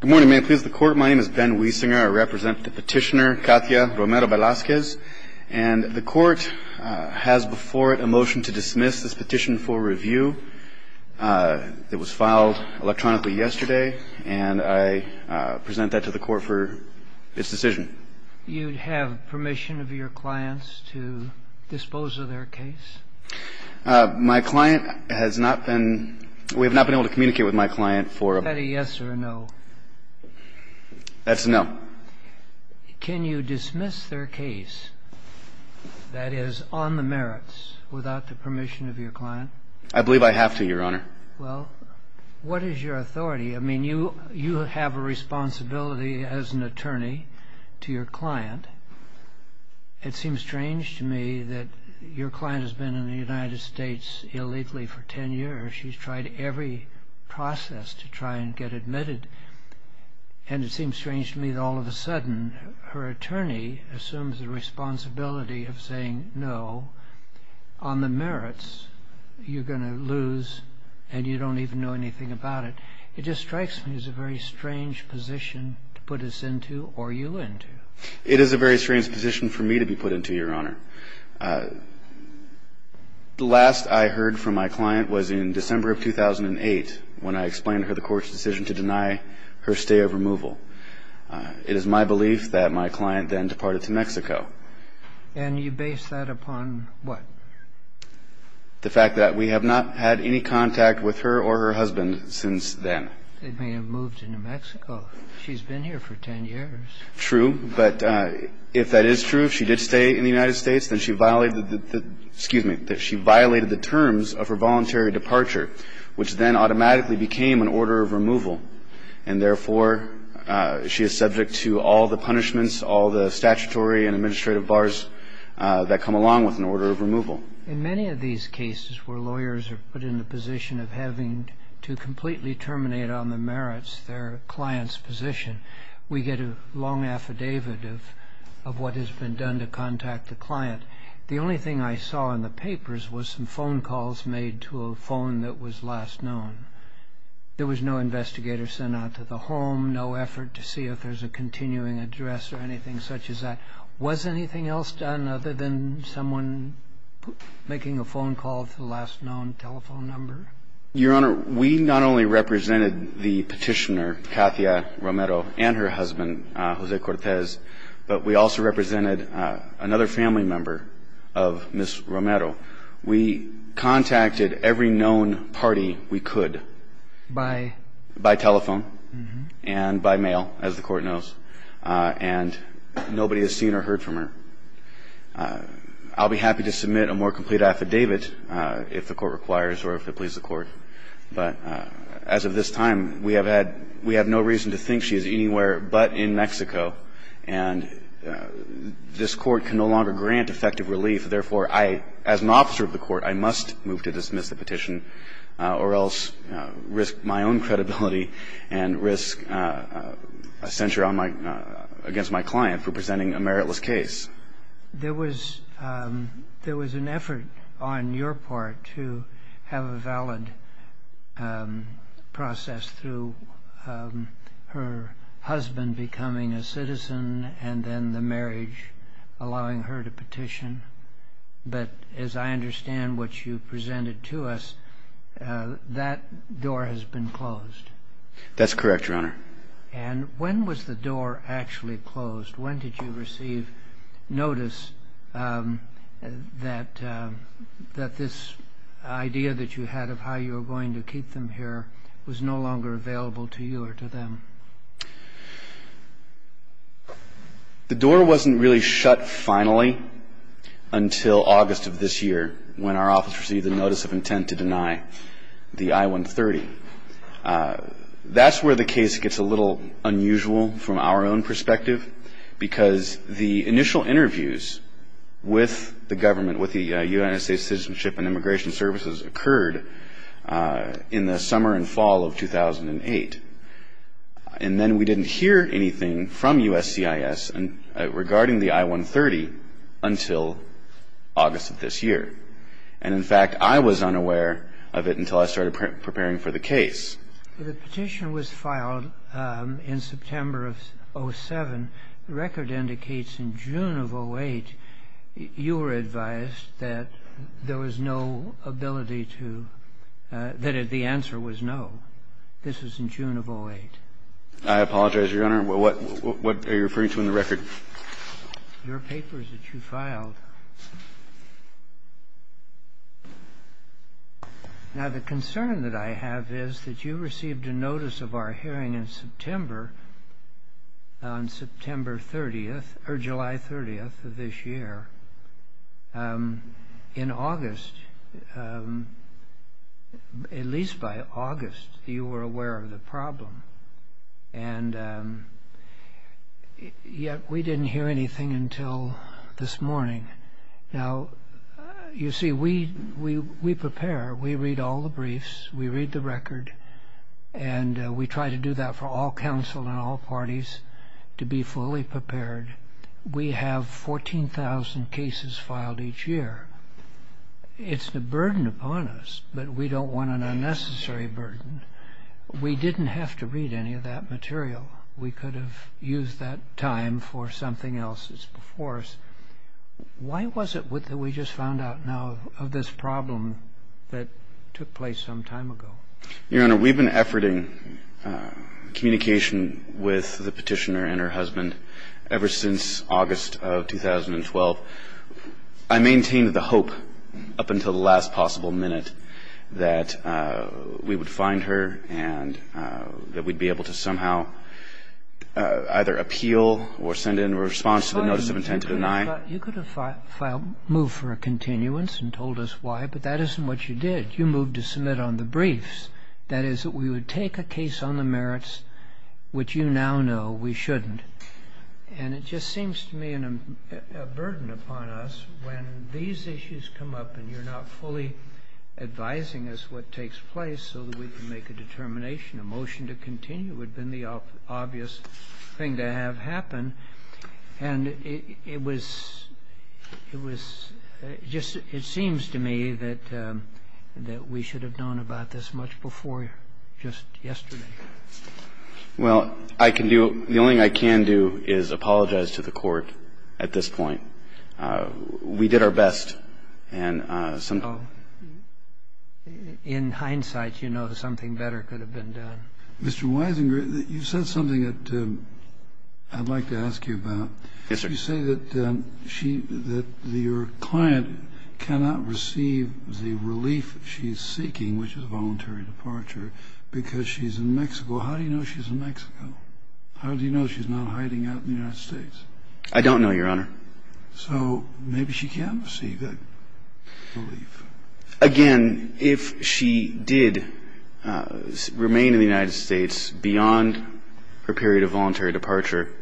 Good morning, may I please the court. My name is Ben Wiesinger. I represent the petitioner Katya Romero Velazquez. And the court has before it a motion to dismiss this petition for review. It was filed electronically yesterday and I present that to the court for its decision. You'd have permission of your clients to dispose of their case. My client has not been we have not been able to communicate with my client for a yes or no. That's a no. Can you dismiss their case that is on the merits without the permission of your client? I believe I have to your honor. Well, what is your authority? I mean you you have a responsibility as an attorney to your client. It seems strange to me that your client has been in the United States illegally for 10 years. She's tried every process to try and get admitted. And it seems strange to me that all of a sudden her attorney assumes the responsibility of saying no. On the merits you're going to lose and you don't even know anything about it. It just strikes me as a very strange position to put us into or you into. It is a very strange position for me to be put into your honor. The last I heard from my client was in December of 2008 when I explained to her the court's decision to deny her stay of removal. It is my belief that my client then departed to Mexico. And you base that upon what? The fact that we have not had any contact with her or her husband since then. They may have moved to New Mexico. She's been here for 10 years. True. But if that is true, if she did stay in the United States, then she violated the, excuse me, that she violated the terms of her voluntary departure, which then automatically became an order of removal. And therefore, she is subject to all the punishments, all the statutory and administrative bars that come along with an order of removal. In many of these cases where lawyers are put in the position of having to completely terminate on the merits their client's position, we get a long affidavit of what has been done to contact the client. The only thing I saw in the papers was some phone calls made to a phone that was last known. There was no investigator sent out to the home, no effort to see if there's a continuing address or anything such as that. Was anything else done other than someone making a phone call to the last known telephone number? Your Honor, we not only represented the petitioner, Katia Romero, and her husband, Jose Cortez, but we also represented another family member of Ms. Romero. We contacted every known party we could. By? By telephone and by mail, as the Court knows. And nobody has seen or heard from her. I'll be happy to submit a more complete affidavit if the Court requires or if it pleases the Court. But as of this time, we have had no reason to think she is anywhere but in Mexico. And this Court can no longer grant effective relief. Therefore, I, as an officer of the Court, I must move to dismiss the petition or else risk my own credibility and risk a censure against my client for presenting a meritless case. There was an effort on your part to have a valid process through her husband becoming a citizen and then the marriage allowing her to petition. But as I understand what you presented to us, that door has been closed. That's correct, Your Honor. And when was the door actually closed? When did you receive notice that this idea that you had of how you were going to keep them here was no longer available to you or to them? The door wasn't really shut finally until August of this year when our office received a notice of intent to deny the I-130. That's where the case gets a little unusual from our own perspective, because the initial interviews with the government, with the United States Citizenship and Immigration Services, occurred in the summer and fall of 2008. And then we didn't hear anything from USCIS regarding the I-130 until August of this year. And in fact, I was unaware of it until I started preparing for the case. The petition was filed in September of 2007. The record indicates in June of 2008 you were advised that there was no ability to – that the answer was no. This was in June of 2008. I apologize, Your Honor. What are you referring to in the record? Your papers that you filed. Now, the concern that I have is that you received a notice of our hearing in September, on September 30th – or July 30th of this year. In August, at least by August, you were aware of the problem. And yet we didn't hear anything until this morning. Now, you see, we prepare. We read all the briefs. We read the record. And we try to do that for all counsel and all parties to be fully prepared. We have 14,000 cases filed each year. It's a burden upon us, but we don't want an unnecessary burden. We didn't have to read any of that material. We could have used that time for something else that's before us. Why was it that we just found out now of this problem that took place some time ago? Your Honor, we've been efforting communication with the Petitioner and her husband ever since August of 2012. I maintained the hope up until the last possible minute that we would find her and that we'd be able to somehow either appeal or send in a response to the notice of intent to deny. You could have filed – moved for a continuance and told us why, but that isn't what you did. You moved to submit on the briefs. That is, we would take a case on the merits, which you now know we shouldn't. And it just seems to me a burden upon us when these issues come up and you're not fully advising us what takes place so that we can make a determination. A motion to continue would have been the obvious thing to have happen. And it was just – it seems to me that we should have known about this much before just yesterday. Well, I can do – the only thing I can do is apologize to the Court at this point. We did our best. Oh, in hindsight, you know something better could have been done. Mr. Wisinger, you said something that I'd like to ask you about. Yes, sir. You say that she – that your client cannot receive the relief she's seeking, which is a voluntary departure, because she's in Mexico. How do you know she's in Mexico? How do you know she's not hiding out in the United States? I don't know, Your Honor. So maybe she can receive that relief. Again, if she did remain in the United States beyond her period of voluntary departure,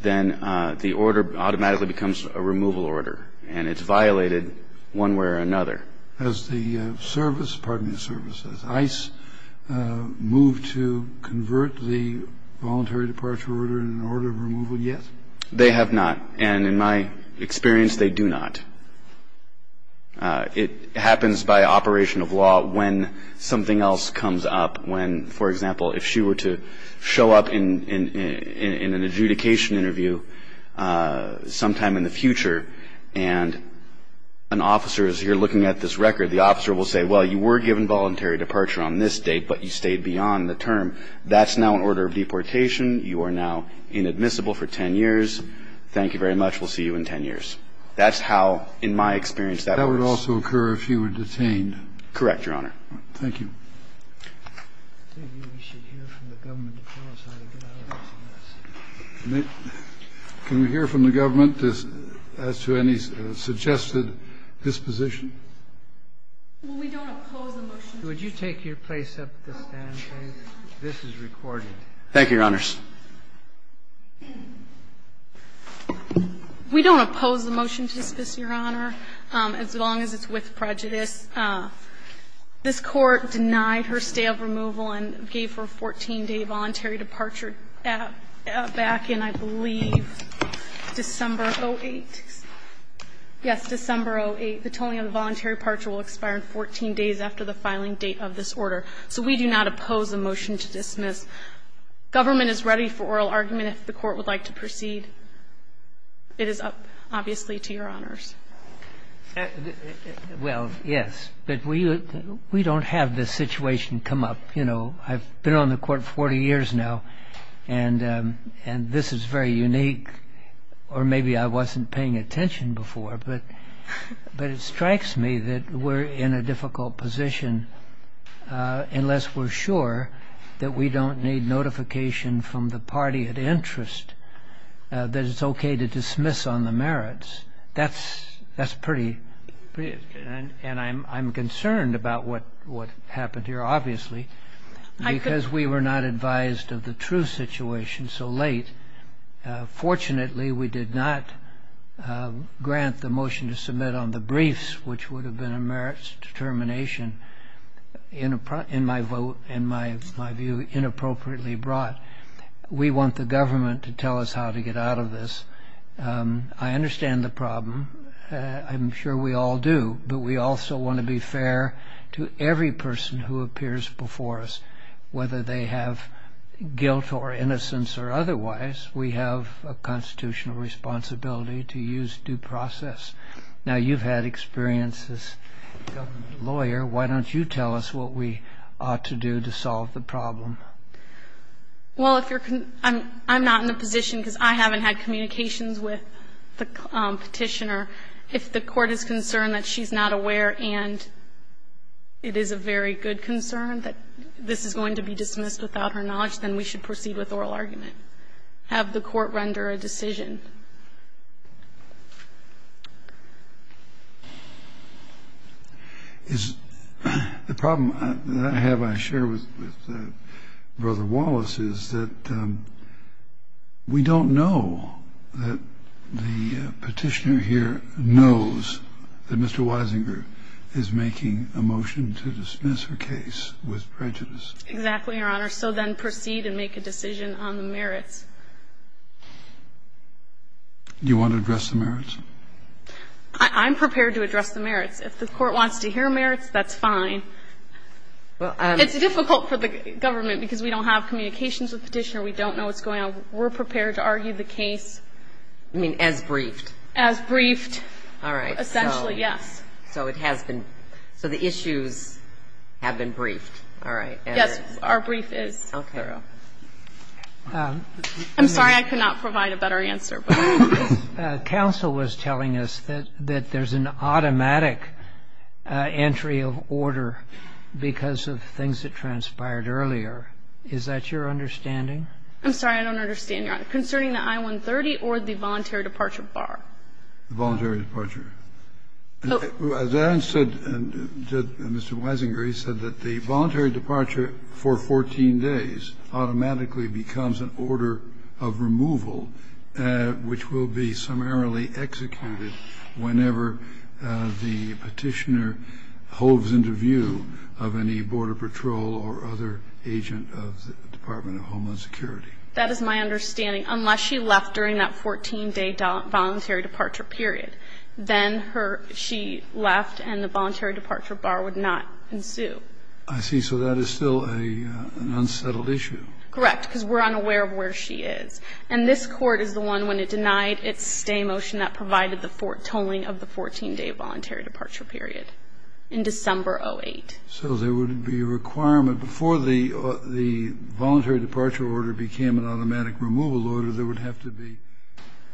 then the order automatically becomes a removal order, and it's violated one way or another. Has the service – pardon me, the service – has ICE moved to convert the voluntary departure order in an order of removal yet? They have not. And in my experience, they do not. It happens by operation of law when something else comes up, when, for example, if she were to show up in an adjudication interview sometime in the future, and an officer is here looking at this record, the officer will say, well, you were given voluntary departure on this date, but you stayed beyond the term. That's now an order of deportation. You are now inadmissible for 10 years. Thank you very much. We'll see you in 10 years. That's how, in my experience, that works. That would also occur if you were detained. Correct, Your Honor. Thank you. Maybe we should hear from the government to tell us how to get out of this mess. Can we hear from the government as to any suggested disposition? Well, we don't oppose the motion. Would you take your place up at the stand, please? This is recorded. Thank you, Your Honors. We don't oppose the motion to dismiss, Your Honor, as long as it's with prejudice. This Court denied her stay of removal and gave her a 14-day voluntary departure back in, I believe, December of 2008. Yes, December of 2008. The tolling of the voluntary departure will expire in 14 days after the filing date of this order. So we do not oppose the motion to dismiss. Government is ready for oral argument if the Court would like to proceed. It is up, obviously, to Your Honors. Well, yes, but we don't have this situation come up. You know, I've been on the Court 40 years now, and this is very unique, or maybe I wasn't paying attention before, but it strikes me that we're in a difficult position unless we're sure that we don't need notification from the party at interest that it's okay to dismiss on the merits. That's pretty interesting. And I'm concerned about what happened here, obviously, because we were not advised of the true situation so late. Fortunately, we did not grant the motion to submit on the briefs, which would have been a merits determination, in my view, inappropriately brought. We want the government to tell us how to get out of this. I understand the problem. I'm sure we all do. But we also want to be fair to every person who appears before us, whether they have guilt or innocence or otherwise. We have a constitutional responsibility to use due process. Now, you've had experience as a government lawyer. Why don't you tell us what we ought to do to solve the problem? Well, I'm not in a position, because I haven't had communications with the Petitioner. If the Court is concerned that she's not aware and it is a very good concern, that this is going to be dismissed without her knowledge, then we should proceed with oral argument, have the Court render a decision. Is the problem that I have, I share with Brother Wallace, is that we don't know that the Petitioner here knows that Mr. Weisinger is making a motion to dismiss her case with prejudice. Exactly, Your Honor. So then proceed and make a decision on the merits. Do you want to address the merits? I'm prepared to address the merits. If the Court wants to hear merits, that's fine. It's difficult for the government, because we don't have communications with the Petitioner. We don't know what's going on. We're prepared to argue the case. You mean as briefed? As briefed. All right. Essentially, yes. So it has been so the issues have been briefed. All right. Yes, our brief is thorough. I'm sorry. I could not provide a better answer. Counsel was telling us that there's an automatic entry of order because of things that transpired earlier. Is that your understanding? I'm sorry. I don't understand, Your Honor. Concerning the I-130 or the voluntary departure bar? The voluntary departure. As Aaron said, Mr. Wisinger, he said that the voluntary departure for 14 days automatically becomes an order of removal, which will be summarily executed whenever the Petitioner holds into view of any Border Patrol or other agent of the Department of Homeland Security. That is my understanding, unless she left during that 14-day voluntary departure period, then she left and the voluntary departure bar would not ensue. I see. So that is still an unsettled issue. Correct, because we're unaware of where she is. And this Court is the one, when it denied its stay motion, that provided the tolling of the 14-day voluntary departure period in December 08. So there would be a requirement before the voluntary departure order became an automatic removal order, there would have to be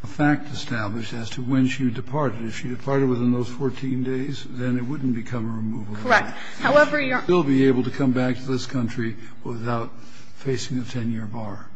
a fact established as to when she departed. If she departed within those 14 days, then it wouldn't become a removal order. Correct. However, Your Honor. She would still be able to come back to this country without facing a 10-year bar.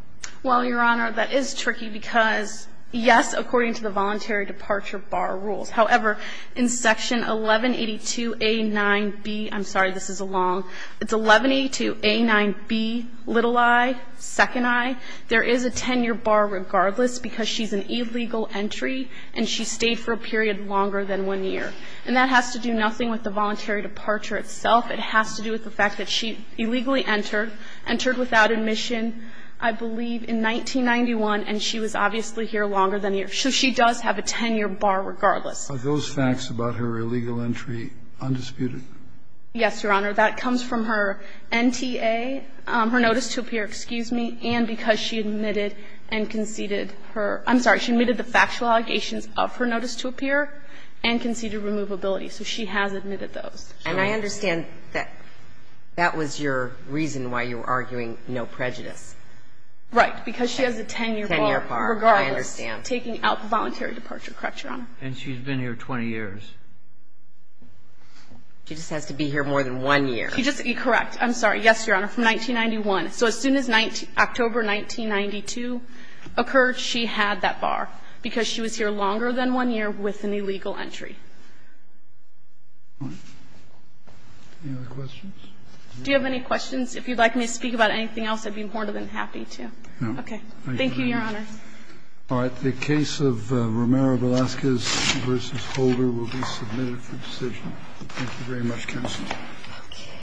Well, Your Honor, that is tricky because, yes, according to the voluntary departure bar rules. However, in Section 1182A9B, I'm sorry, this is a long one. It's 1182A9B, little I, second I. There is a 10-year bar regardless because she's an illegal entry and she stayed for a period longer than one year. And that has to do nothing with the voluntary departure itself. It has to do with the fact that she illegally entered, entered without admission, I believe in 1991, and she was obviously here longer than a year. So she does have a 10-year bar regardless. Are those facts about her illegal entry undisputed? Yes, Your Honor. That comes from her NTA, her notice to appear, excuse me, and because she admitted and conceded her – I'm sorry. She admitted the factual allegations of her notice to appear and conceded removability. So she has admitted those. And I understand that that was your reason why you were arguing no prejudice. Because she has a 10-year bar regardless. 10-year bar. I understand. Taking out the voluntary departure. Correct, Your Honor? And she's been here 20 years. She just has to be here more than one year. Correct. I'm sorry. Yes, Your Honor, from 1991. So as soon as October 1992 occurred, she had that bar because she was here longer than one year with an illegal entry. Any other questions? Do you have any questions? If you'd like me to speak about anything else, I'd be more than happy to. Okay. Thank you, Your Honor. All right. The case of Romero-Velasquez v. Holder will be submitted for decision. Thank you very much, counsel.